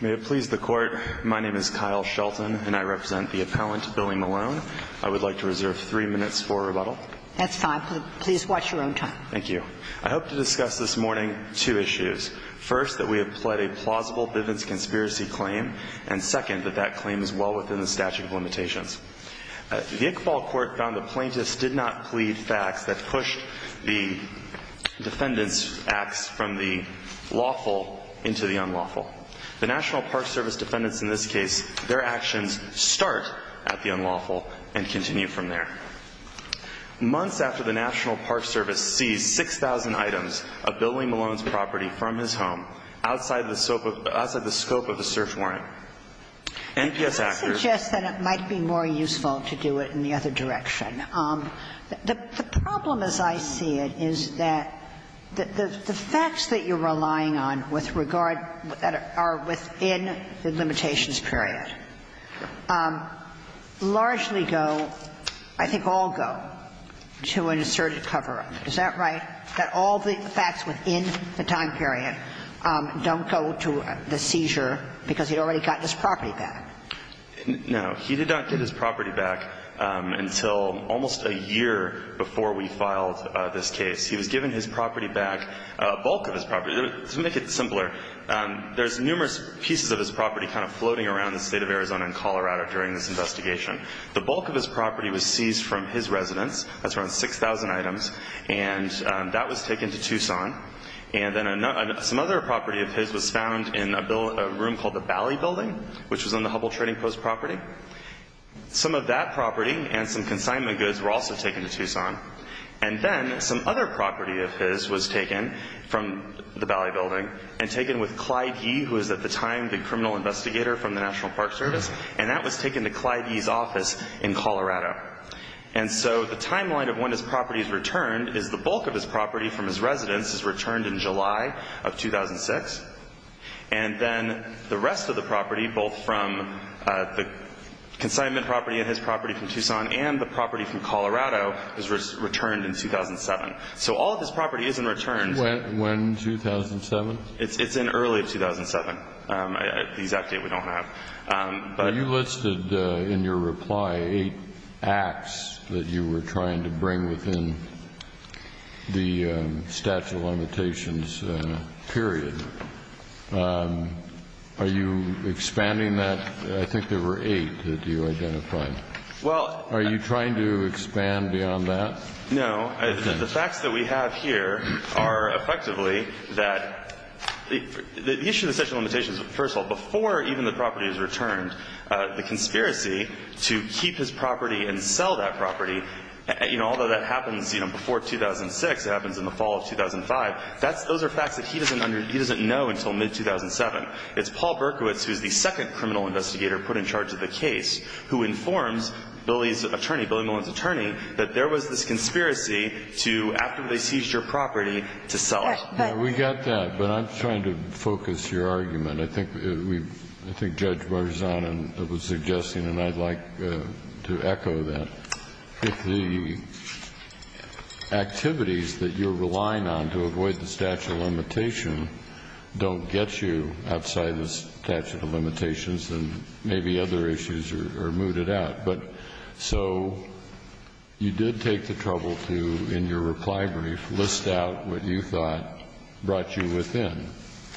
May it please the Court, my name is Kyle Shelton, and I represent the appellant, Billy Malone. I would like to reserve three minutes for rebuttal. That's fine. Please watch your own time. Thank you. I hope to discuss this morning two issues. First, that we have pled a plausible Bivens conspiracy claim, and second, that that claim is well within the statute of limitations. The Iqbal Court found the plaintiffs did not plead facts that pushed the defendant's claim to be lawful into the unlawful. The National Park Service defendants in this case, their actions start at the unlawful and continue from there. Months after the National Park Service seized 6,000 items of Billy Malone's property from his home outside the scope of a search warrant, NPS actors --- Let me suggest that it might be more useful to do it in the other direction. The problem, as I see it, is that the facts that you're relying on with regard that are within the limitations period largely go, I think all go, to an asserted cover-up. Is that right, that all the facts within the time period don't go to the seizure because he already got his property back? No. He did not get his property back until almost a year before we filed this case. He was given his property back, a bulk of his property. To make it simpler, there's numerous pieces of his property kind of floating around the State of Arizona and Colorado during this investigation. The bulk of his property was seized from his residence. That's around 6,000 items. And that was taken to Tucson. And then some other property of his was found in a room called the Bally Building, which was on the Hubble Trading Post property. Some of that property and some consignment goods were also taken to Tucson. And then some other property of his was taken from the Bally Building and taken with Clyde Yee, who was at the time the criminal investigator from the National Park Service. And that was taken to Clyde Yee's office in Colorado. And so the timeline of when his property is returned is the bulk of his property from his residence is returned in July of 2006. And then the rest of the property, both from the consignment property and his property from Tucson and the property from Colorado, is returned in 2007. So all of his property is in return. When, 2007? It's in early 2007, the exact date we don't have. But you listed in your reply eight acts that you were trying to bring within the statute of limitations period. Are you expanding that? I think there were eight that you identified. Well, are you trying to expand beyond that? No, the facts that we have here are effectively that the issue of the statute of limitations, first of all, before even the property is returned, the conspiracy to keep his property and sell that property. Although that happens before 2006, it happens in the fall of 2005. Those are facts that he doesn't know until mid-2007. It's Paul Berkowitz, who's the second criminal investigator put in charge of the case, who informs Billy's attorney, Billy Mullen's attorney, that there was this conspiracy to, after they seized your property, to sell it. Right. Right. We got that. But I'm trying to focus your argument. I think we've – I think Judge Marzano was suggesting, and I'd like to echo that. If the activities that you're relying on to avoid the statute of limitation don't get you outside the statute of limitations, then maybe other issues are mooted out. But so you did take the trouble to, in your reply brief, list out what you thought brought you within.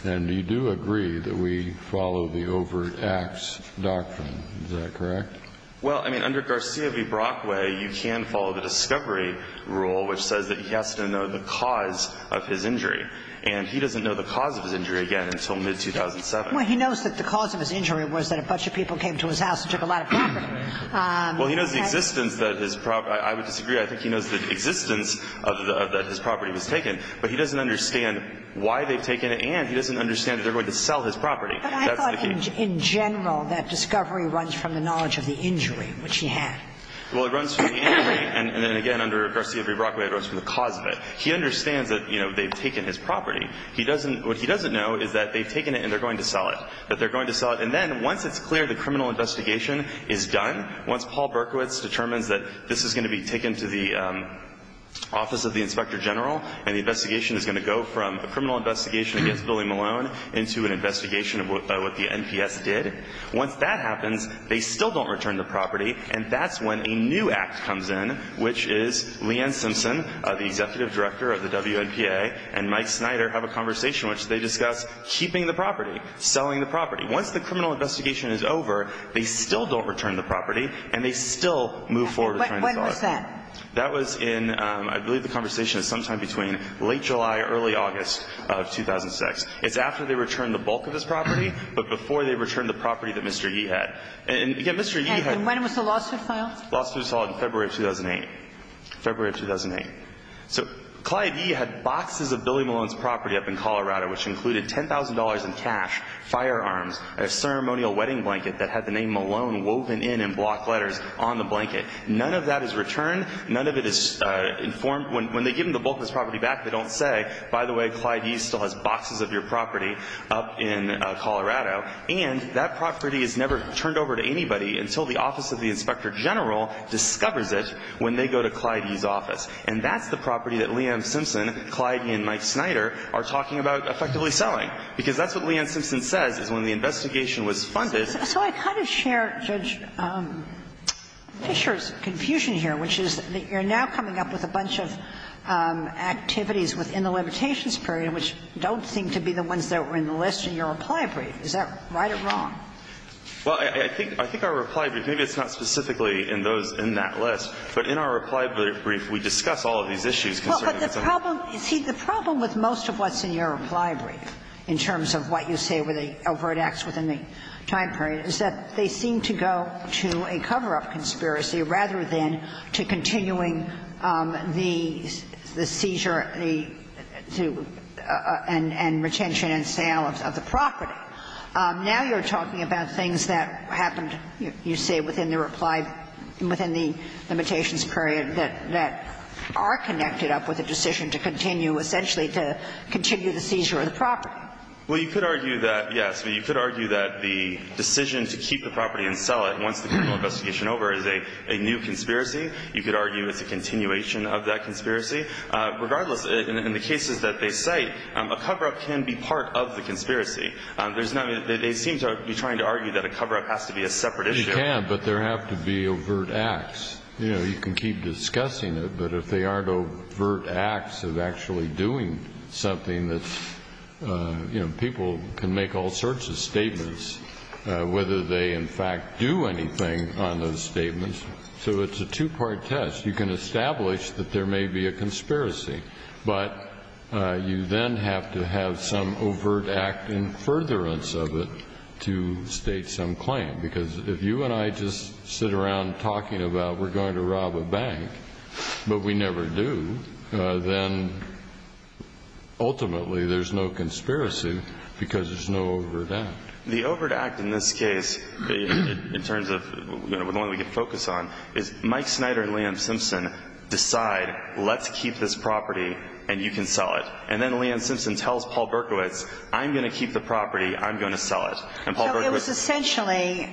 And you do agree that we follow the overt acts doctrine. Is that correct? Well, I mean, under Garcia v. Brockway, you can follow the discovery rule, which says that he has to know the cause of his injury. And he doesn't know the cause of his injury, again, until mid-2007. Well, he knows that the cause of his injury was that a bunch of people came to his house and took a lot of property. Well, he knows the existence that his property – I would disagree. I think he knows the existence of the – that his property was taken. But he doesn't understand why they've taken it, and he doesn't understand that they're going to sell his property. That's the key. In general, that discovery runs from the knowledge of the injury, which he had. Well, it runs from the injury, and then, again, under Garcia v. Brockway, it runs from the cause of it. He understands that, you know, they've taken his property. He doesn't – what he doesn't know is that they've taken it and they're going to sell it, that they're going to sell it. And then, once it's clear the criminal investigation is done, once Paul Berkowitz determines that this is going to be taken to the Office of the Inspector General and the investigation is going to go from a criminal investigation against Billy did, once that happens, they still don't return the property, and that's when a new act comes in, which is Leanne Simpson, the executive director of the WNPA, and Mike Snyder have a conversation, which they discuss keeping the property, selling the property. Once the criminal investigation is over, they still don't return the property, and they still move forward with trying to sell it. When was that? That was in – I believe the conversation is sometime between late July, early August of 2006. It's after they return the bulk of his property, but before they return the property that Mr. Yee had. And, again, Mr. Yee had – And when was the lawsuit filed? The lawsuit was filed in February of 2008. February of 2008. So Clyde Yee had boxes of Billy Malone's property up in Colorado, which included $10,000 in cash, firearms, a ceremonial wedding blanket that had the name Malone woven in in block letters on the blanket. None of that is returned. None of it is informed. When they give him the bulk of his property back, they don't say, by the way, Clyde Yee still has boxes of your property up in Colorado. And that property is never turned over to anybody until the Office of the Inspector General discovers it when they go to Clyde Yee's office. And that's the property that Liam Simpson, Clyde Yee, and Mike Snyder are talking about effectively selling, because that's what Liam Simpson says is when the investigation was funded – So I kind of share Judge Fischer's confusion here, which is that you're now coming up with a bunch of activities within the limitations period which don't seem to be the ones that were in the list in your reply brief. Is that right or wrong? Well, I think our reply brief, maybe it's not specifically in those in that list, but in our reply brief, we discuss all of these issues concerning the subject. Well, but the problem – see, the problem with most of what's in your reply brief in terms of what you say were the overt acts within the time period is that they seem to go to a cover-up conspiracy rather than to continuing the seizure, the – and retention and sale of the property. Now you're talking about things that happened, you say, within the reply – within the limitations period that are connected up with a decision to continue, essentially, to continue the seizure of the property. Well, you could argue that, yes. But you could argue that the decision to keep the property and sell it once the criminal investigation is over is a new conspiracy. You could argue it's a continuation of that conspiracy. Regardless, in the cases that they cite, a cover-up can be part of the conspiracy. There's no – they seem to be trying to argue that a cover-up has to be a separate issue. It can, but there have to be overt acts. You know, you can keep discussing it, but if they aren't overt acts of actually doing something that's – you know, people can make all sorts of statements, whether they, in fact, do anything on those statements. So it's a two-part test. You can establish that there may be a conspiracy, but you then have to have some overt act in furtherance of it to state some claim. Because if you and I just sit around talking about we're going to rob a bank, but we never do, then ultimately there's no conspiracy because there's no overt act. The overt act in this case, in terms of – you know, the one we can focus on, is Mike Snyder and Liam Simpson decide, let's keep this property and you can sell it. And then Liam Simpson tells Paul Berkowitz, I'm going to keep the property, I'm going to sell it. And Paul Berkowitz – So it was essentially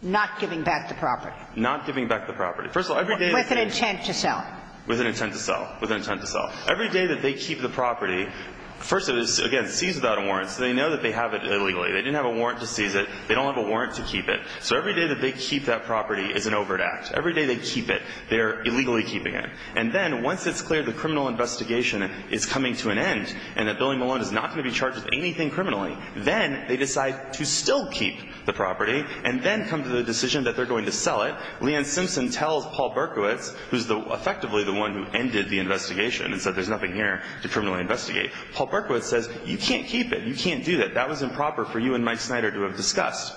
not giving back the property. Not giving back the property. First of all, every day – With an intent to sell it. With an intent to sell. With an intent to sell. Every day that they keep the property – first of all, it was, again, seized without a warrant, so they know that they have it illegally. They didn't have a warrant to seize it. They don't have a warrant to keep it. So every day that they keep that property is an overt act. Every day they keep it. They're illegally keeping it. And then once it's clear the criminal investigation is coming to an end and that Billy Malone is not going to be charged with anything criminally, then they decide to still keep the property and then come to the decision that they're going to sell it. Now, Leanne Simpson tells Paul Berkowitz, who's effectively the one who ended the investigation and said there's nothing here to criminally investigate, Paul Berkowitz says, you can't keep it. You can't do that. That was improper for you and Mike Snyder to have discussed.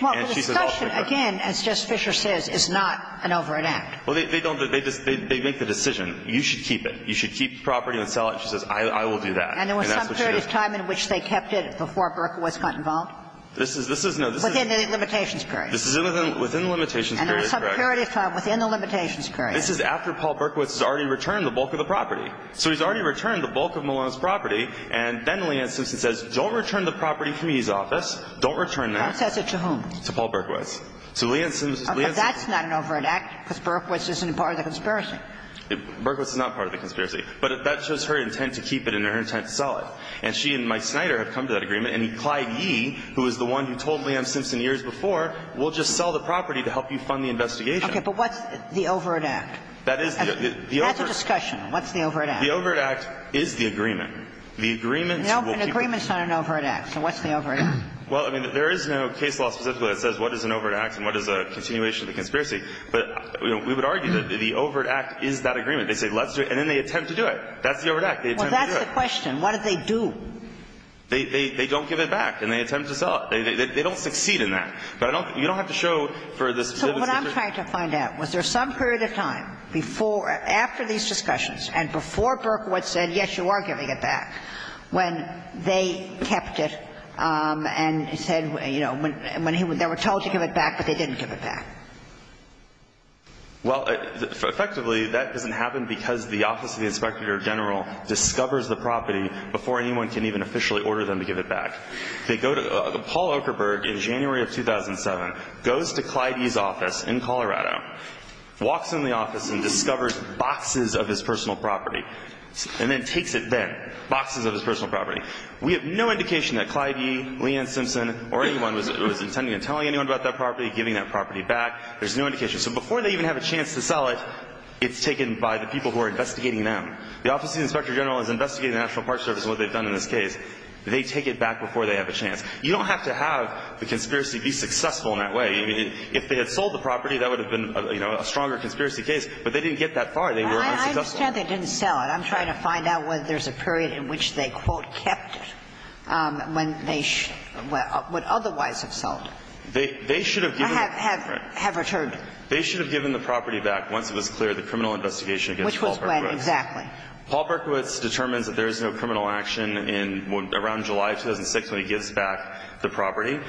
And she says – Well, the discussion, again, as Justice Fischer says, is not an overt act. Well, they don't – they make the decision. You should keep it. You should keep the property and sell it. And she says, I will do that. And that's what she does. And there was some period of time in which they kept it before Berkowitz got involved? This is – this is – no, this is – Within the limitations period. This is within the limitations period, correct. And there was some period of time within the limitations period. This is after Paul Berkowitz has already returned the bulk of the property. So he's already returned the bulk of Malone's property. And then Leanne Simpson says, don't return the property from his office. Don't return that. Who says it to whom? To Paul Berkowitz. So Leanne Simpson – But that's not an overt act, because Berkowitz isn't part of the conspiracy. Berkowitz is not part of the conspiracy. But that shows her intent to keep it and her intent to sell it. And she and Mike Snyder have come to that agreement. And Clyde Yee, who is the one who told Leanne Simpson years before, we'll just sell the property to help you fund the investigation. Okay. But what's the overt act? That is the – the overt – That's a discussion. What's the overt act? The overt act is the agreement. The agreement will keep – An agreement is not an overt act. So what's the overt act? Well, I mean, there is no case law specifically that says what is an overt act and what is a continuation of the conspiracy. But, you know, we would argue that the overt act is that agreement. They say let's do it, and then they attempt to do it. That's the overt act. They attempt to do it. Well, that's the question. What do they do? They don't give it back, and they attempt to sell it. They don't succeed in that. But I don't – you don't have to show for the specific reason. So what I'm trying to find out, was there some period of time before – after these discussions and before Berkowitz said, yes, you are giving it back, when they kept it and said, you know, when he – they were told to give it back, but they didn't give it back? Well, effectively, that doesn't happen because the Office of the Inspector General discovers the property before anyone can even officially order them to give it back. They go to – Paul Okerberg in January of 2007 goes to Clyde Yee's office in Colorado, walks in the office and discovers boxes of his personal property, and then takes it then, boxes of his personal property. We have no indication that Clyde Yee, Leanne Simpson, or anyone was intending to tell anyone about that property, giving that property back. There's no indication. So before they even have a chance to sell it, it's taken by the people who are there. The Office of the Inspector General has investigated the National Park Service and what they've done in this case. They take it back before they have a chance. You don't have to have the conspiracy be successful in that way. If they had sold the property, that would have been, you know, a stronger conspiracy case. But they didn't get that far. They were unsuccessful. Well, I understand they didn't sell it. I'm trying to find out whether there's a period in which they, quote, kept it when they would otherwise have sold it. They should have given it back. I have – have returned it. They should have given the property back once it was clear the criminal investigation against Paul Berkowitz. Right, exactly. Paul Berkowitz determines that there is no criminal action in – around July of 2006 when he gives back the property.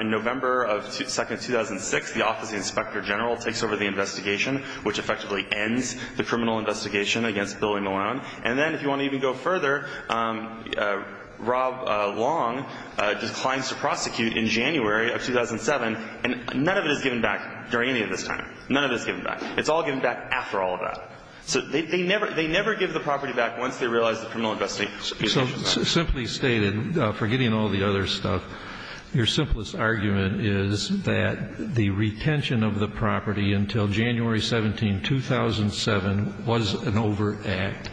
In November of – second of 2006, the Office of the Inspector General takes over the investigation, which effectively ends the criminal investigation against Billy Malone. And then, if you want to even go further, Rob Long declines to prosecute in January of 2007, and none of it is given back during any of this time. None of it is given back. It's all given back after all of that. So they never – they never give the property back once they realize the criminal investigation. So simply stated, forgetting all the other stuff, your simplest argument is that the retention of the property until January 17, 2007, was an overact,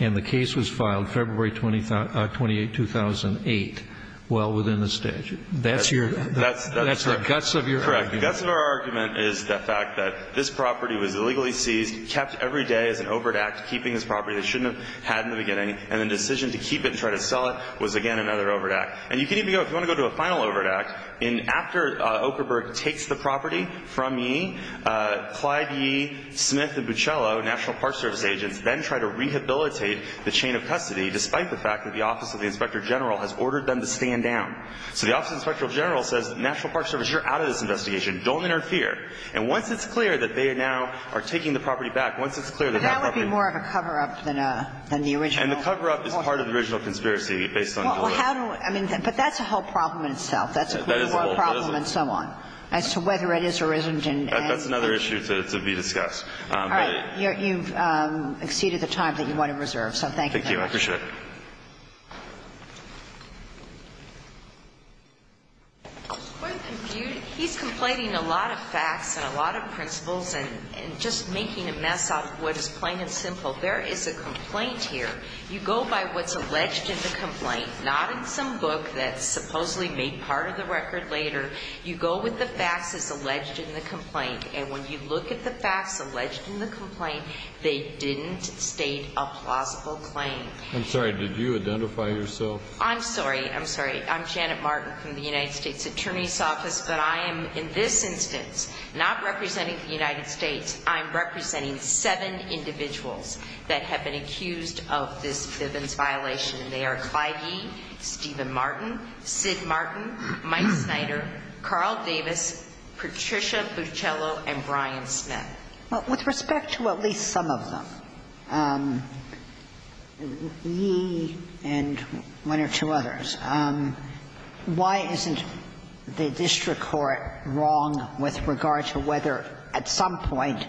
and the case was filed February 28, 2008, well within the statute. That's your – that's the guts of your argument. Correct. So this property was illegally seized, kept every day as an overact, keeping this property they shouldn't have had in the beginning, and the decision to keep it and try to sell it was again another overact. And you can even go – if you want to go to a final overact, in – after Okerberg takes the property from Yee, Clyde Yee, Smith and Buccello, National Park Service agents, then try to rehabilitate the chain of custody despite the fact that the Office of the Inspector General has ordered them to stand down. So the Office of the Inspector General says, National Park Service, you're out of this investigation. Don't interfere. And once it's clear that they now are taking the property back, once it's clear that that property – But that would be more of a cover-up than a – than the original. And the cover-up is part of the original conspiracy based on – Well, how do – I mean, but that's a whole problem in itself. That is a whole problem. That's a whole problem and so on as to whether it is or isn't an – That's another issue to be discussed. All right. You've exceeded the time that you want to reserve, so thank you very much. I appreciate it. Ms. Coyle, do you – he's complaining a lot of facts and a lot of principles and just making a mess of what is plain and simple. There is a complaint here. You go by what's alleged in the complaint, not in some book that supposedly made part of the record later. You go with the facts as alleged in the complaint. And when you look at the facts alleged in the complaint, they didn't state a plausible claim. I'm sorry. Did you identify yourself? I'm sorry. I'm sorry. I'm Janet Martin from the United States Attorney's Office. But I am in this instance not representing the United States. I'm representing seven individuals that have been accused of this Bivens violation. And they are Clive Yee, Stephen Martin, Sid Martin, Mike Snyder, Carl Davis, Patricia Buccello, and Brian Smith. Well, with respect to at least some of them, Yee and one or two others, why isn't the district court wrong with regard to whether at some point,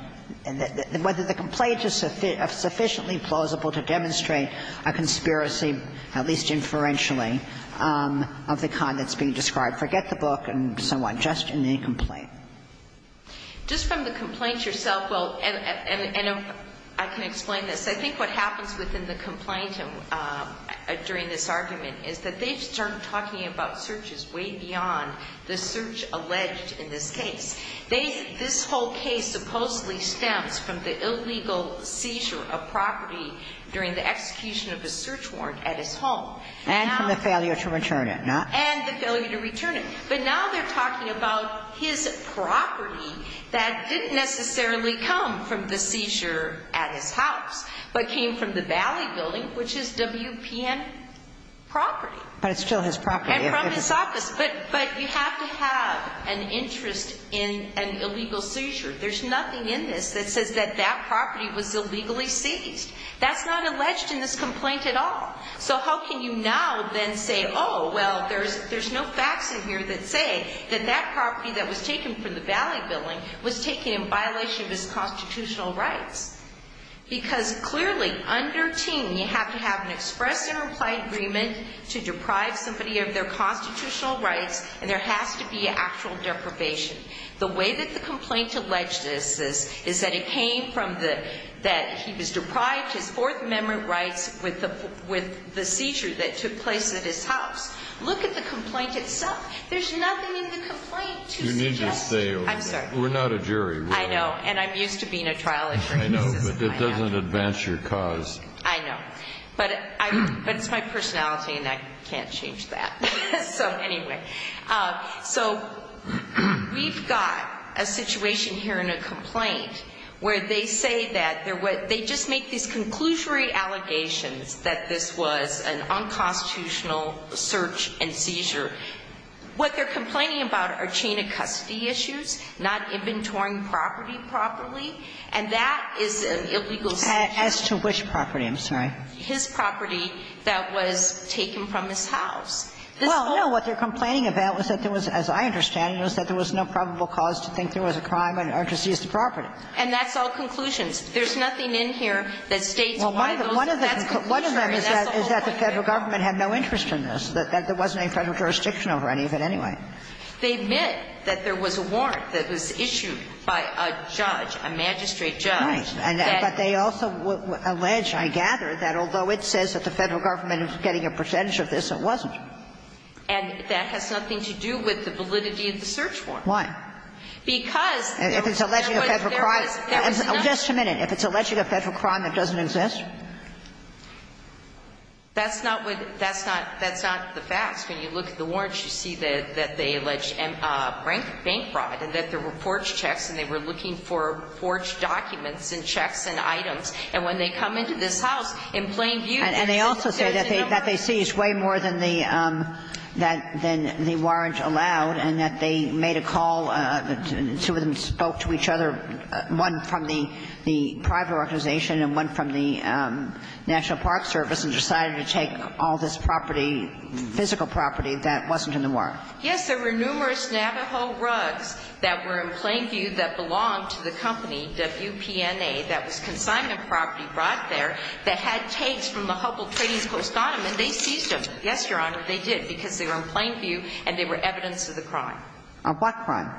whether the complaint is sufficiently plausible to demonstrate a conspiracy, at least inferentially, of the kind that's being described? Forget the book and so on. Just in the complaint. Just from the complaint yourself, well, and I can explain this. I think what happens within the complaint during this argument is that they start talking about searches way beyond the search alleged in this case. This whole case supposedly stems from the illegal seizure of property during the execution of a search warrant at his home. And from the failure to return it, no? And the failure to return it. But now they're talking about his property that didn't necessarily come from the seizure at his house, but came from the Valley Building, which is WPN property. But it's still his property. And from his office. But you have to have an interest in an illegal seizure. There's nothing in this that says that that property was illegally seized. That's not alleged in this complaint at all. So how can you now then say, oh, well, there's no facts in here that say that that property that was taken from the Valley Building was taken in violation of his constitutional rights? Because clearly, under Ting, you have to have an express and implied agreement to deprive somebody of their constitutional rights. And there has to be actual deprivation. The way that the complaint alleges this is that it came from that he was deprived his Fourth Amendment rights with the seizure that took place at his house. Look at the complaint itself. There's nothing in the complaint to suggest. I'm sorry. We're not a jury. I know. And I'm used to being a trial attorney. I know. But it doesn't advance your cause. I know. But it's my personality, and I can't change that. So anyway. So we've got a situation here in a complaint where they say that they just make these conclusory allegations that this was an unconstitutional search and seizure. What they're complaining about are chain of custody issues, not inventorying property properly, and that is an illegal search and seizure. As to which property? I'm sorry. His property that was taken from his house. Well, no. What they're complaining about was that there was, as I understand it, was that there was no probable cause to think there was a crime or to seize the property. And that's all conclusions. There's nothing in here that states why those are. That's the whole point of it. Well, one of them is that the Federal government had no interest in this, that there wasn't any Federal jurisdiction over any of it anyway. They admit that there was a warrant that was issued by a judge, a magistrate judge. Right. But they also allege, I gather, that although it says that the Federal government was getting a percentage of this, it wasn't. Why? Because there was nothing. If it's alleging a Federal crime. There was nothing. Just a minute. If it's alleging a Federal crime that doesn't exist? That's not what the – that's not – that's not the facts. When you look at the warrants, you see that they allege bank fraud and that there were forged checks and they were looking for forged documents and checks and items. And when they come into this house, in plain view, there's nothing. And they also say that they seized way more than the warrant allowed and that they spoke to each other, one from the private organization and one from the National Park Service, and decided to take all this property, physical property that wasn't in the warrant. Yes. There were numerous Navajo rugs that were in plain view that belonged to the company WPNA that was consignment property brought there that had tapes from the Hubble Trading Post on them, and they seized them. Yes, Your Honor, they did, because they were in plain view and they were evidence of the crime. Of what crime?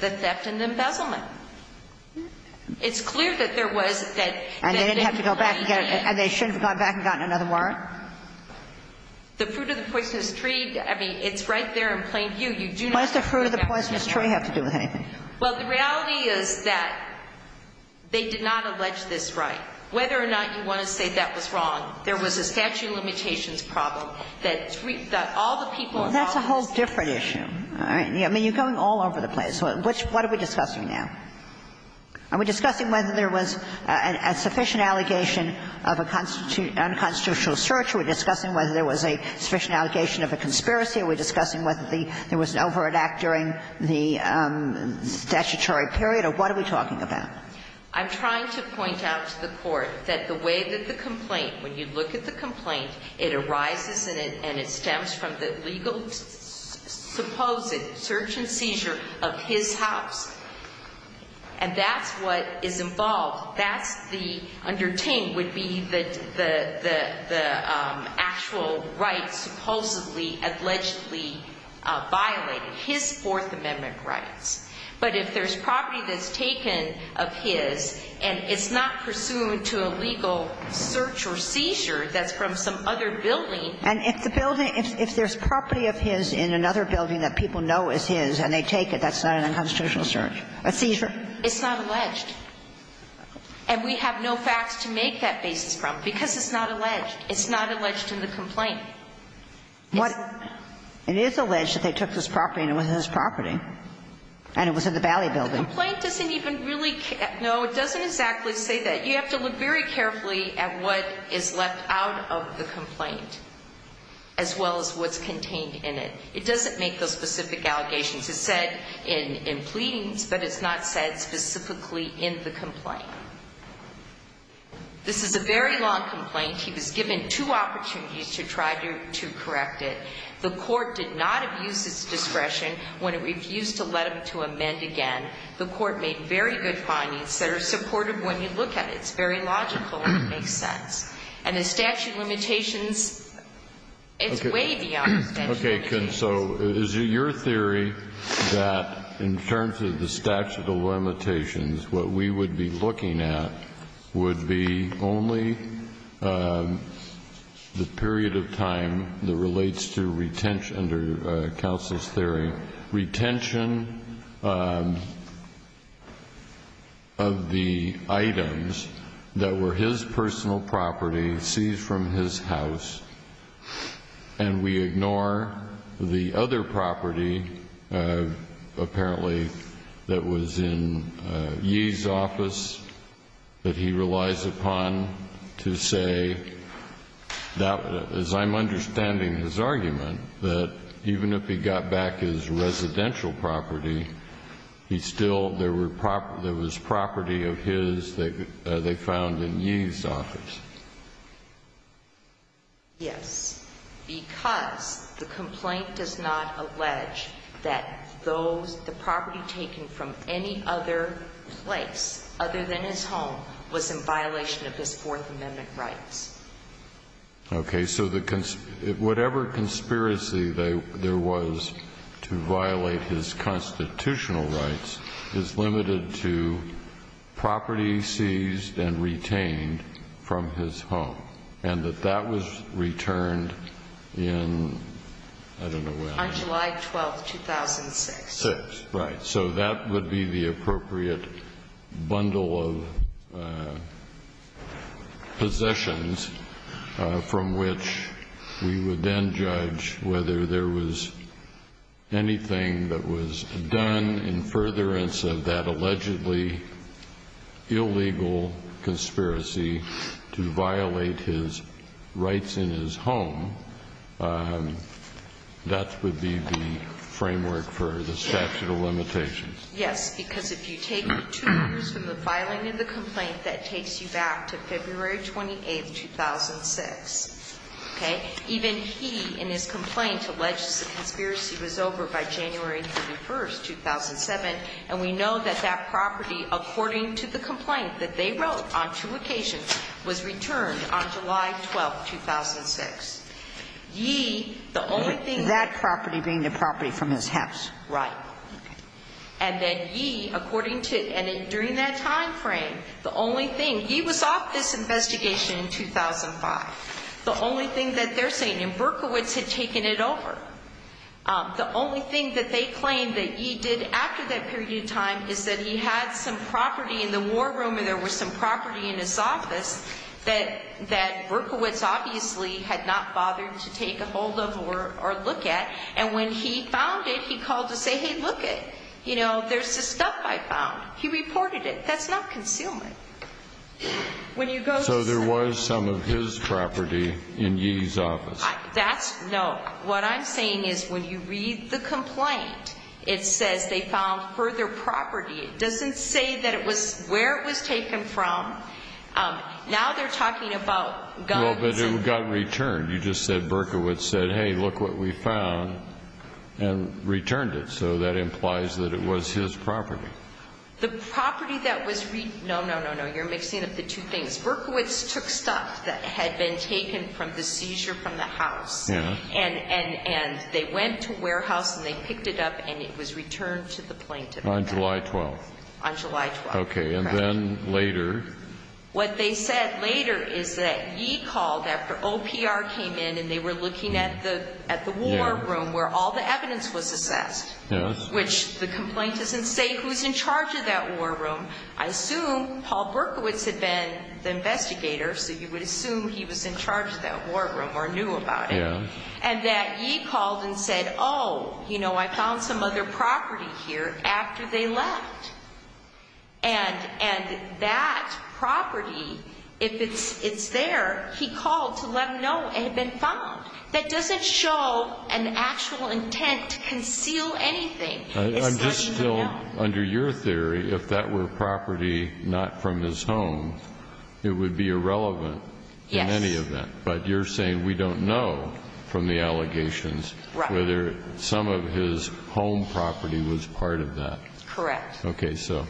The theft and embezzlement. It's clear that there was that – that they were in plain view. And they didn't have to go back and get – and they shouldn't have gone back and gotten another warrant? The fruit of the poisonous tree, I mean, it's right there in plain view. You do not have to go back and get another warrant. What does the fruit of the poisonous tree have to do with anything? Well, the reality is that they did not allege this right. Whether or not you want to say that was wrong, there was a statute of limitations problem that all the people involved in this case. Well, that's a whole different issue. All right. I mean, you're going all over the place. What are we discussing now? Are we discussing whether there was a sufficient allegation of a unconstitutional search? Are we discussing whether there was a sufficient allegation of a conspiracy? Are we discussing whether there was an override act during the statutory period? Or what are we talking about? I'm trying to point out to the Court that the way that the complaint, when you look at the complaint, it arises and it stems from the legal supposed search and seizure of his house. And that's what is involved. That's the, under Ting, would be the actual rights supposedly, allegedly violated, his Fourth Amendment rights. But if there's property that's taken of his and it's not pursuant to a legal search or seizure that's from some other building. And if the building, if there's property of his in another building that people know is his and they take it, that's not an unconstitutional search? A seizure? It's not alleged. And we have no facts to make that basis from, because it's not alleged. It's not alleged in the complaint. It is alleged that they took this property and it was his property and it was in the Valley building. The complaint doesn't even really, no, it doesn't exactly say that. You have to look very carefully at what is left out of the complaint as well as what's contained in it. It doesn't make those specific allegations. It's said in pleadings, but it's not said specifically in the complaint. This is a very long complaint. He was given two opportunities to try to correct it. The court did not abuse its discretion when it refused to let him to amend again. The court made very good findings that are supportive when you look at it. It's very logical and it makes sense. And the statute of limitations, it's way beyond that. Okay. So is it your theory that in terms of the statute of limitations, what we would be looking at would be only the period of time that relates to retention under counsel's theory. So we ignore retention of the items that were his personal property seized from his house, and we ignore the other property apparently that was in Yee's office that he relies upon to say that, as I'm understanding his argument, that even if he got back his residential property, he still, there was property of his that they found in Yee's office. Yes. Because the complaint does not allege that the property taken from any other place other than his home was in violation of his Fourth Amendment rights. Okay. So whatever conspiracy there was to violate his constitutional rights is limited to property seized and retained from his home, and that that was returned in, I don't know when. On July 12th, 2006. Six, right. So that would be the appropriate bundle of possessions from which we would then judge whether there was anything that was done in furtherance of that allegedly illegal conspiracy to violate his rights in his home. That would be the framework for the statute of limitations. Yes. Because if you take two years from the filing of the complaint, that takes you back to February 28th, 2006. Okay. Even he, in his complaint, alleged the conspiracy was over by January 31st, 2007, and we know that that property, according to the complaint that they wrote on two January 31st, 2006, he, the only thing. That property being the property from his house. Right. And then he, according to, and during that time frame, the only thing, he was off this investigation in 2005. The only thing that they're saying, and Berkowitz had taken it over. The only thing that they claim that he did after that period of time is that he had some property in the war room and there was some property in his office that Berkowitz obviously had not bothered to take a hold of or look at. And when he found it, he called to say, hey, look it. You know, there's this stuff I found. He reported it. That's not concealment. So there was some of his property in Yee's office. That's, no. What I'm saying is when you read the complaint, it says they found further property. It doesn't say that it was, where it was taken from. Now they're talking about guns. Well, but it got returned. You just said Berkowitz said, hey, look what we found and returned it. So that implies that it was his property. The property that was, no, no, no, no. You're mixing up the two things. Berkowitz took stuff that had been taken from the seizure from the house. Yeah. And they went to Warehouse and they picked it up and it was returned to the plaintiff. On July 12th. On July 12th. Okay. And then later. What they said later is that Yee called after OPR came in and they were looking at the war room where all the evidence was assessed. Yes. Which the complaint doesn't say who's in charge of that war room. I assume Paul Berkowitz had been the investigator, so you would assume he was in charge of that war room or knew about it. Yes. And that Yee called and said, oh, you know, I found some other property here after they left. And that property, if it's there, he called to let them know it had been found. That doesn't show an actual intent to conceal anything. It's not even known. Under your theory, if that were property not from his home, it would be irrelevant. Yes. In any event. But you're saying we don't know from the allegations whether some of his home property was part of that. Correct. Okay, so.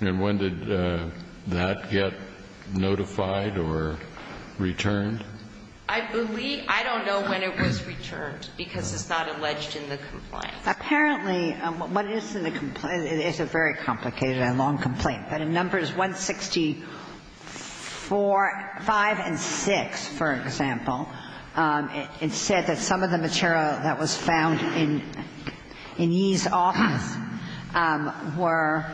And when did that get notified or returned? I believe — I don't know when it was returned because it's not alleged in the complaint. Apparently, what is in the complaint — it's a very complicated and long complaint, but in Numbers 164 — 5 and 6, for example, it said that some of the material that was found in Yee's office were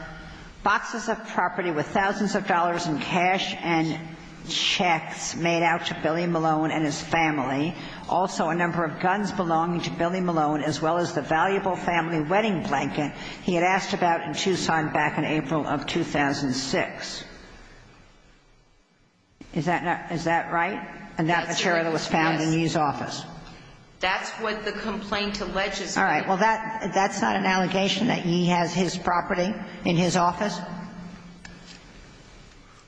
boxes of property with thousands of dollars in cash and checks made out to Billy Malone and his family, also a number of guns belonging to Billy Malone, as well as the valuable family wedding blanket he had asked about in Tucson back in April of 2006. Is that right? Yes. And that material was found in Yee's office. That's what the complaint alleges. All right. Well, that's not an allegation that Yee has his property in his office?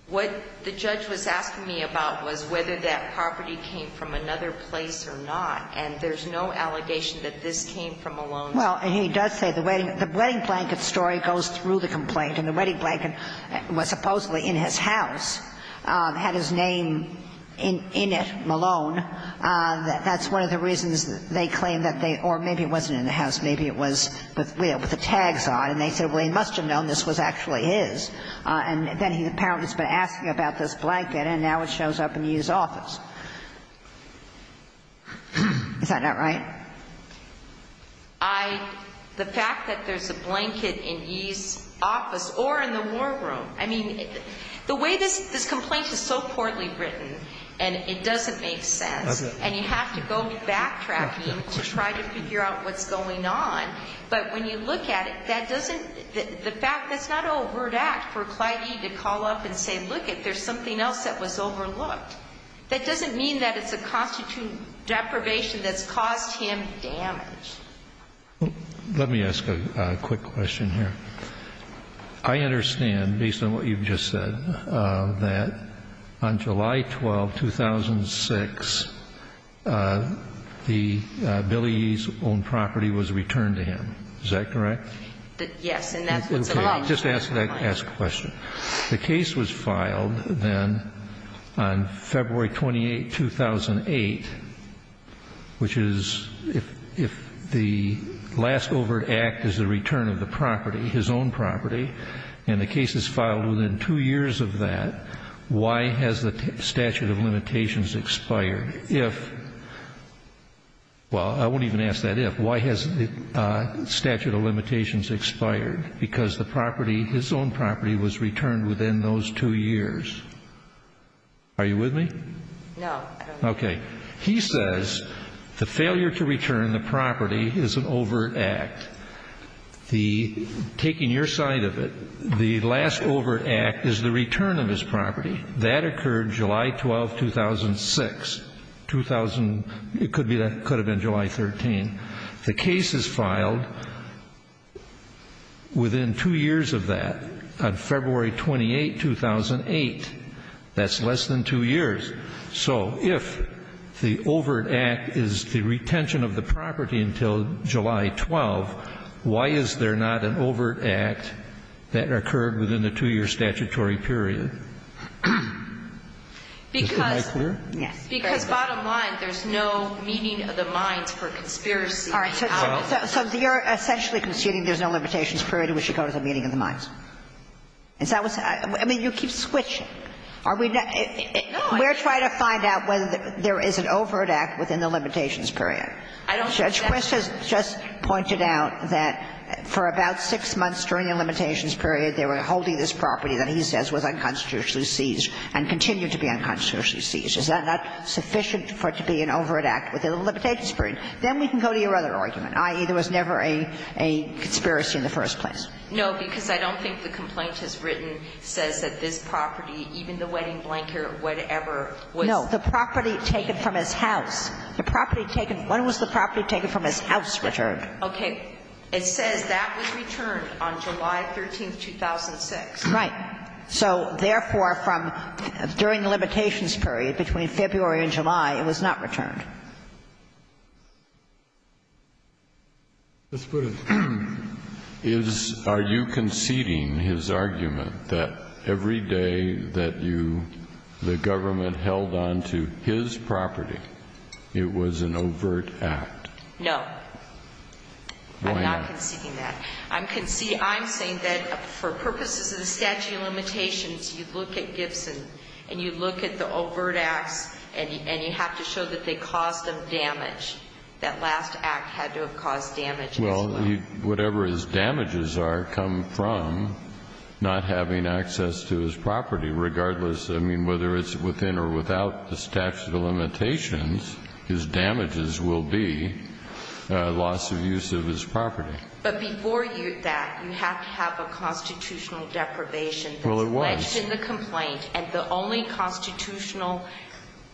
What the judge was asking me about was whether that property came from another place or not, and there's no allegation that this came from Malone. Well, he does say the wedding blanket story goes through the complaint, and the wedding blanket was supposedly in his house, had his name in it, Malone. That's one of the reasons they claim that they — or maybe it wasn't in the house. Maybe it was with the tags on. And they said, well, he must have known this was actually his. And then he apparently has been asking about this blanket, and now it shows up in Yee's office. Is that not right? I — the fact that there's a blanket in Yee's office or in the war room. I mean, the way this complaint is so poorly written, and it doesn't make sense, and you have to go backtracking to try to figure out what's going on. But when you look at it, that doesn't — the fact that's not overt act for Clyde Yee to call up and say, look, there's something else that was overlooked. That doesn't mean that it's a constitute deprivation that's caused him damage. Let me ask a quick question here. I understand, based on what you've just said, that on July 12, 2006, the — Billy Yee's owned property was returned to him. Is that correct? Yes. And that's what's alleged. Okay. Just ask the question. The case was filed then on February 28, 2008, which is if the last overt act is the property, his own property, and the case is filed within two years of that, why has the statute of limitations expired? If — well, I won't even ask that if. Why has the statute of limitations expired? Because the property, his own property, was returned within those two years. Are you with me? No. Okay. He says the failure to return the property is an overt act. The — taking your side of it, the last overt act is the return of his property. That occurred July 12, 2006. 2000 — it could have been July 13. The case is filed within two years of that, on February 28, 2008. That's less than two years. So if the overt act is the retention of the property until July 12, why is there not an overt act that occurred within the two-year statutory period? Because — Am I clear? Yes. Because, bottom line, there's no meaning of the mines for conspiracy. All right. So you're essentially conceding there's no limitations period in which it comes to the meaning of the mines? Is that what's — I mean, you keep switching. Are we — No. We're trying to find out whether there is an overt act within the limitations I don't think that's — Judge Quist has just pointed out that for about six months during the limitations period, they were holding this property that he says was unconstitutionally seized and continued to be unconstitutionally seized. Is that not sufficient for it to be an overt act within the limitations period? Then we can go to your other argument, i.e., there was never a conspiracy in the first No, because I don't think the complaint is written, says that this property, even the wedding blanket or whatever, was — No. The property taken from his house. The property taken — when was the property taken from his house returned? Okay. It says that was returned on July 13th, 2006. Right. So, therefore, from — during the limitations period, between February and July, it was not returned. Justice Breyer. Is — are you conceding his argument that every day that you — the government held on to his property, it was an overt act? No. Why not? I'm not conceding that. I'm conceding — I'm saying that for purposes of the statute of limitations, you look at Gibson, and you look at the overt acts, and you have to show that they caused him damage, that last act had to have caused damage as well. Well, whatever his damages are come from not having access to his property, regardless — I mean, whether it's within or without the statute of limitations, his damages will be loss of use of his property. But before that, you have to have a constitutional deprivation. Well, it was. And the only constitutional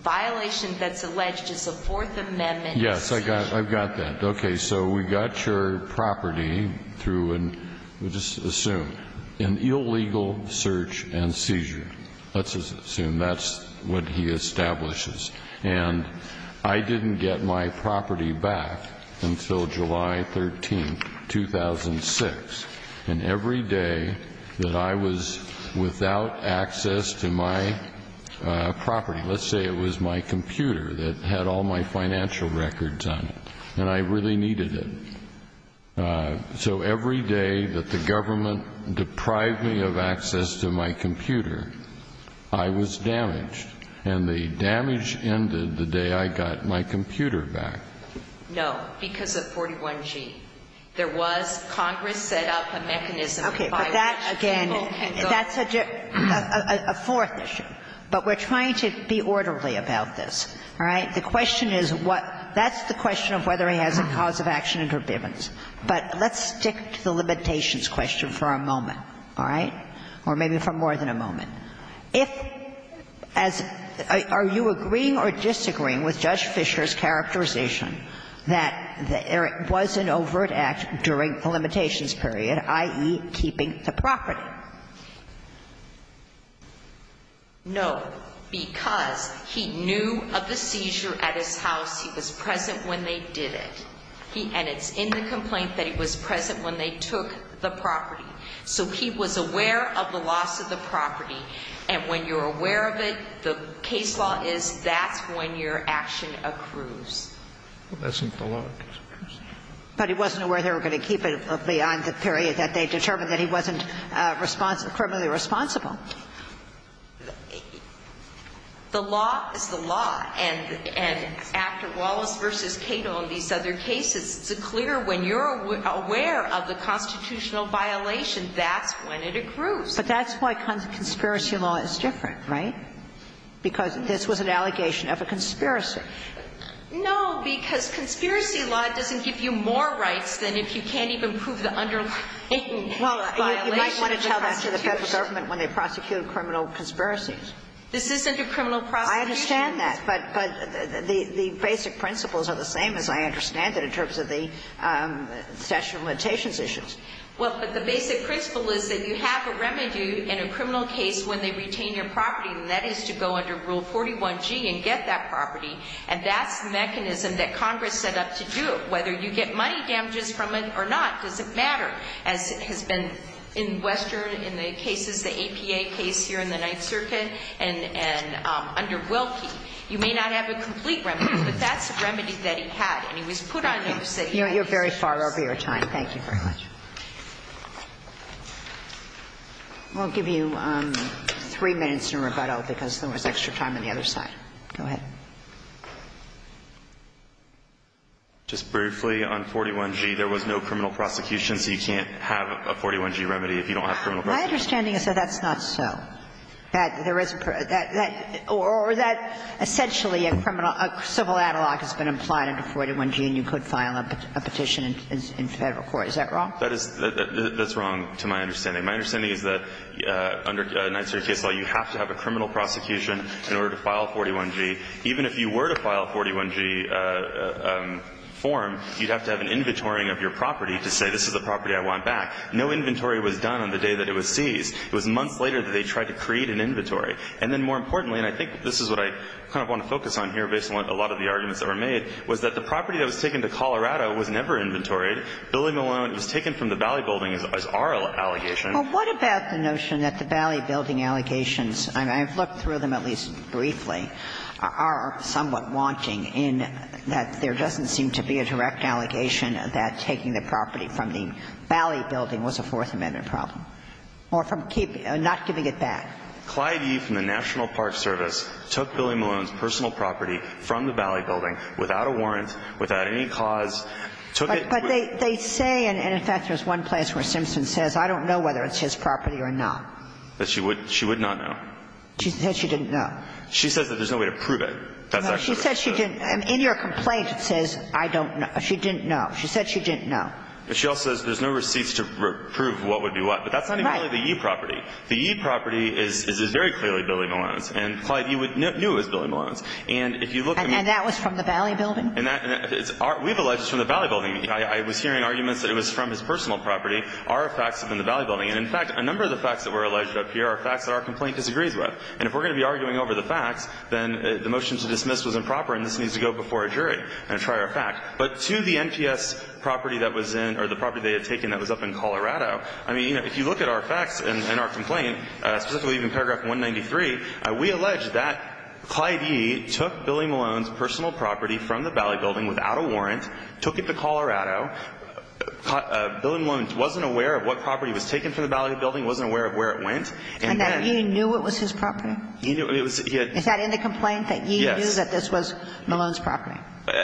violation that's alleged is the Fourth Amendment. Yes. I've got that. Okay. So we got your property through an — let's just assume, an illegal search and seizure. Let's just assume that's what he establishes. And I didn't get my property back until July 13th, 2006. And every day that I was without access to my property, let's say it was my computer that had all my financial records on it, and I really needed it. So every day that the government deprived me of access to my computer, I was damaged. And the damage ended the day I got my computer back. No, because of 41G. There was Congress set up a mechanism by which people can go. Okay. But that, again, that's a fourth issue. But we're trying to be orderly about this. All right? The question is what — that's the question of whether he has a cause of action interdependence. But let's stick to the limitations question for a moment, all right? Or maybe for more than a moment. If, as — are you agreeing or disagreeing with Judge Fisher's characterization that there was an overt act during the limitations period, i.e., keeping the property? No. Because he knew of the seizure at his house. He was present when they did it. And it's in the complaint that he was present when they took the property. So he was aware of the loss of the property. And when you're aware of it, the case law is that's when your action accrues. But that's not the law. But he wasn't aware they were going to keep it beyond the period that they determined that he wasn't responsible — criminally responsible. The law is the law. And after Wallace v. Cato and these other cases, it's clear when you're aware of the constitutional violation, that's when it accrues. But that's why conspiracy law is different, right? Because this was an allegation of a conspiracy. No. Because conspiracy law doesn't give you more rights than if you can't even prove the underlying violation of the Constitution. Well, you might want to tell that to the Federal Government when they prosecute criminal conspiracies. This isn't a criminal prosecution. I understand that. But the basic principles are the same, as I understand it, in terms of the statute of limitations issues. Well, but the basic principle is that you have a remedy in a criminal case when they retain your property, and that is to go under Rule 41G and get that property. And that's the mechanism that Congress set up to do it. Whether you get money damages from it or not doesn't matter, as has been in Western in the cases, the APA case here in the Ninth Circuit and under Wilkie. You may not have a complete remedy, but that's the remedy that he had. And he was put on notice that he had. You're very far over your time. Thank you very much. We'll give you three minutes in rebuttal, because there was extra time on the other side. Go ahead. Just briefly, on 41G, there was no criminal prosecution, so you can't have a 41G remedy if you don't have criminal prosecution. My understanding is that that's not so. That there is a per or that essentially a criminal civil analog has been applied under 41G, and you could file a petition in Federal court. Is that wrong? That's wrong to my understanding. My understanding is that under Ninth Circuit case law, you have to have a criminal prosecution in order to file 41G. Even if you were to file a 41G form, you'd have to have an inventorying of your property to say this is the property I want back. No inventory was done on the day that it was seized. It was months later that they tried to create an inventory. And then more importantly, and I think this is what I kind of want to focus on here based on a lot of the arguments that were made, was that the property that was taken to Colorado was never inventoried. Billy Malone was taken from the Valley Building as our allegation. Well, what about the notion that the Valley Building allegations, and I've looked through them at least briefly, are somewhat wanting in that there doesn't seem to be a direct allegation that taking the property from the Valley Building was a Fourth Amendment problem, or from not giving it back? Clyde Yee from the National Park Service took Billy Malone's personal property from the Valley Building without a warrant, without any cause. But they say, and in fact, there's one place where Simpson says, I don't know whether it's his property or not. That she would not know. She said she didn't know. She says that there's no way to prove it. She said she didn't. In your complaint, it says, I don't know. She didn't know. She said she didn't know. She also says there's no receipts to prove what would be what. But that's not even the Yee property. The Yee property is very clearly Billy Malone's. And Clyde Yee knew it was Billy Malone's. And if you look at me. And that was from the Valley Building? And that is our – we've alleged it's from the Valley Building. I was hearing arguments that it was from his personal property. Our facts have been the Valley Building. And in fact, a number of the facts that were alleged up here are facts that our complaint disagrees with. And if we're going to be arguing over the facts, then the motion to dismiss was improper and this needs to go before a jury and try our fact. But to the NPS property that was in – or the property they had taken that was up in Colorado, I mean, you know, if you look at our facts and our complaint, specifically in paragraph 193, we allege that Clyde Yee took Billy Malone's personal property from the Valley Building without a warrant, took it to Colorado. Billy Malone wasn't aware of what property was taken from the Valley Building, wasn't aware of where it went. And then – And that Yee knew it was his property? He knew it was – he had – Is that in the complaint? Yes. That Yee knew that this was Malone's property?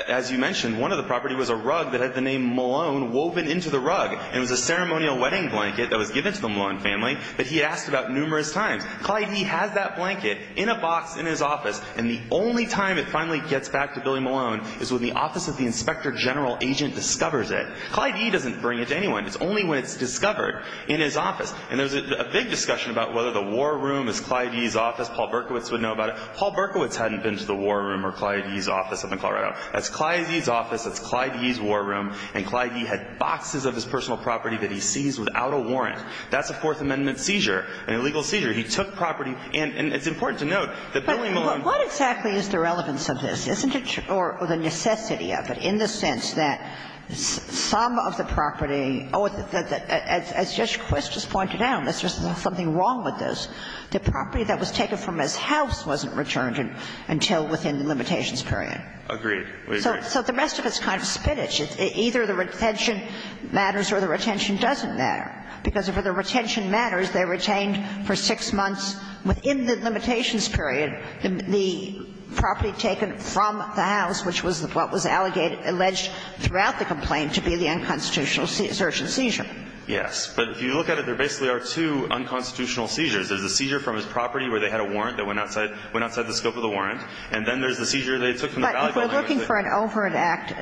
As you mentioned, one of the property was a rug that had the name Malone woven into the rug. And it was a ceremonial wedding blanket that was given to the Malone family that he asked about numerous times. Clyde Yee has that blanket in a box in his office, and the only time it finally gets back to Billy Malone is when the Office of the Inspector General agent discovers it. Clyde Yee doesn't bring it to anyone. It's only when it's discovered in his office. And there's a big discussion about whether the war room is Clyde Yee's office, Paul Berkowitz would know about it. Paul Berkowitz hadn't been to the war room or Clyde Yee's office in Colorado. That's Clyde Yee's office, that's Clyde Yee's war room, and Clyde Yee had boxes of his personal property that he seized without a warrant. That's a Fourth Amendment seizure, an illegal seizure. He took property. And it's important to note that Billy Malone. But what exactly is the relevance of this, isn't it? Or the necessity of it, in the sense that some of the property, oh, as Judge Quist just pointed out, there's something wrong with this. The property that was taken from his house wasn't returned until within the limitations period. Agreed. We agree. So the rest of it's kind of spinach. It's either the retention matters or the retention doesn't matter. Because if the retention matters, they retained for six months within the limitations period the property taken from the house, which was what was alleged throughout the complaint to be the unconstitutional search and seizure. Yes. But if you look at it, there basically are two unconstitutional seizures. There's a seizure from his property where they had a warrant that went outside the scope of the warrant. And then there's the seizure they took from the valet. But if we're looking for an overt act,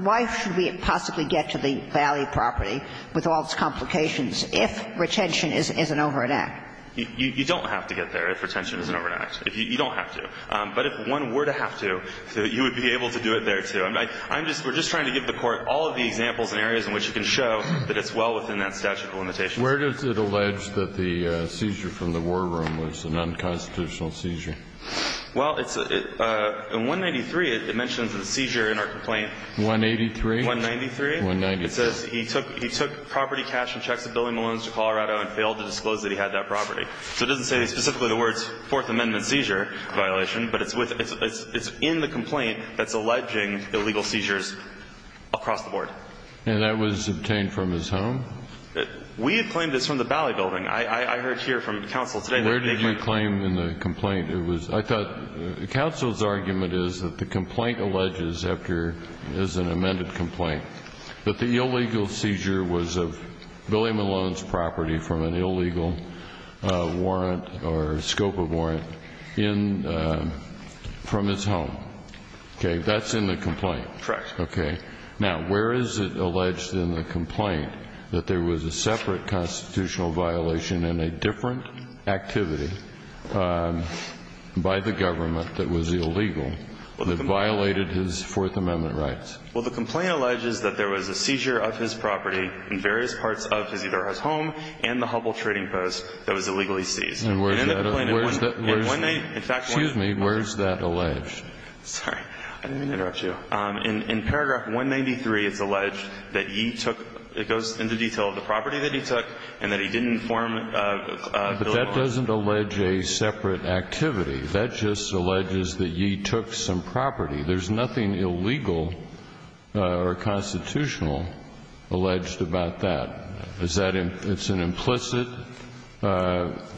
why should we possibly get to the valet property with all its complications if retention is an overt act? You don't have to get there if retention is an overt act. You don't have to. But if one were to have to, you would be able to do it there, too. I'm just we're just trying to give the Court all of the examples and areas in which you can show that it's well within that statute of limitations. Where does it allege that the seizure from the war room was an unconstitutional seizure? Well, it's in 193, it mentions the seizure in our complaint. 183? 193. 193. It says he took property cash and checks at Billy Malone's to Colorado and failed to disclose that he had that property. So it doesn't say specifically the words Fourth Amendment seizure violation, but it's in the complaint that's alleging illegal seizures across the board. And that was obtained from his home? We have claimed it's from the valet building. I heard here from counsel today. Where did you claim in the complaint it was? I thought counsel's argument is that the complaint alleges after is an amended complaint that the illegal seizure was of Billy Malone's property from an illegal warrant or scope of warrant in from his home. Okay. That's in the complaint. Correct. Okay. Now, where is it alleged in the complaint that there was a separate constitutional violation in a different activity by the government that was illegal that violated his Fourth Amendment rights? Well, the complaint alleges that there was a seizure of his property in various parts of his either his home and the Hubbell Trading Post that was illegally seized. And where is that? Excuse me. Where is that alleged? Sorry. I didn't mean to interrupt you. In paragraph 193, it's alleged that he took, it goes into detail, the property that he took and that he didn't inform Billy Malone. But that doesn't allege a separate activity. That just alleges that ye took some property. There's nothing illegal or constitutional alleged about that. Is that an implicit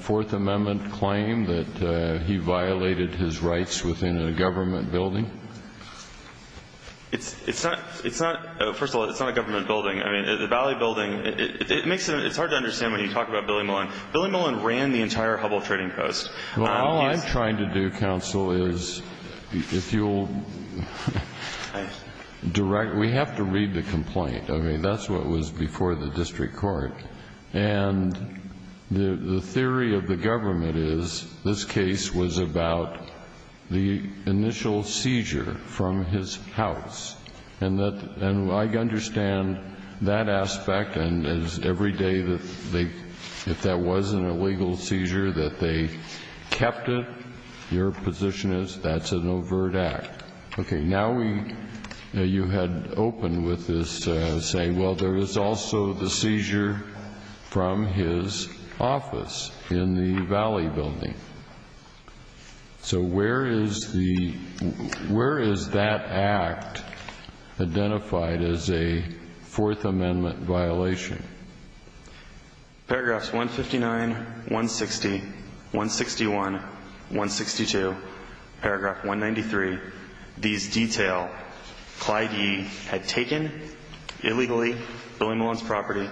Fourth Amendment claim that he violated his rights within a government building? It's not, first of all, it's not a government building. I mean, the Valley Building, it makes it, it's hard to understand when you talk about Billy Malone. Billy Malone ran the entire Hubbell Trading Post. Well, all I'm trying to do, counsel, is if you'll direct, we have to read the complaint. I mean, that's what was before the district court. And the theory of the government is this case was about the initial seizure from his house. And that, and I understand that aspect and as every day that they, if that wasn't a legal seizure, that they kept it. Your position is that's an overt act. Okay. Now we, you had opened with this saying, well, there is also the seizure from his office in the Valley Building. So where is the, where is that act identified as a Fourth Amendment violation? Paragraphs 159, 160, 161, 162, paragraph 193, these detail Clyde Yee had taken illegally Billy Malone's property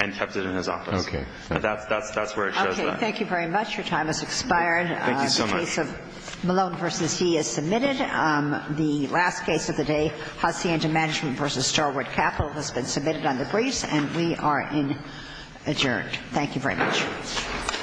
and kept it in his office. Okay. That's where it shows up. Thank you very much. Your time has expired. Thank you so much. The case of Malone v. Yee is submitted. The last case of the day, Hacienda Management v. Starwood Capital has been submitted on the briefs and we are adjourned. Thank you very much.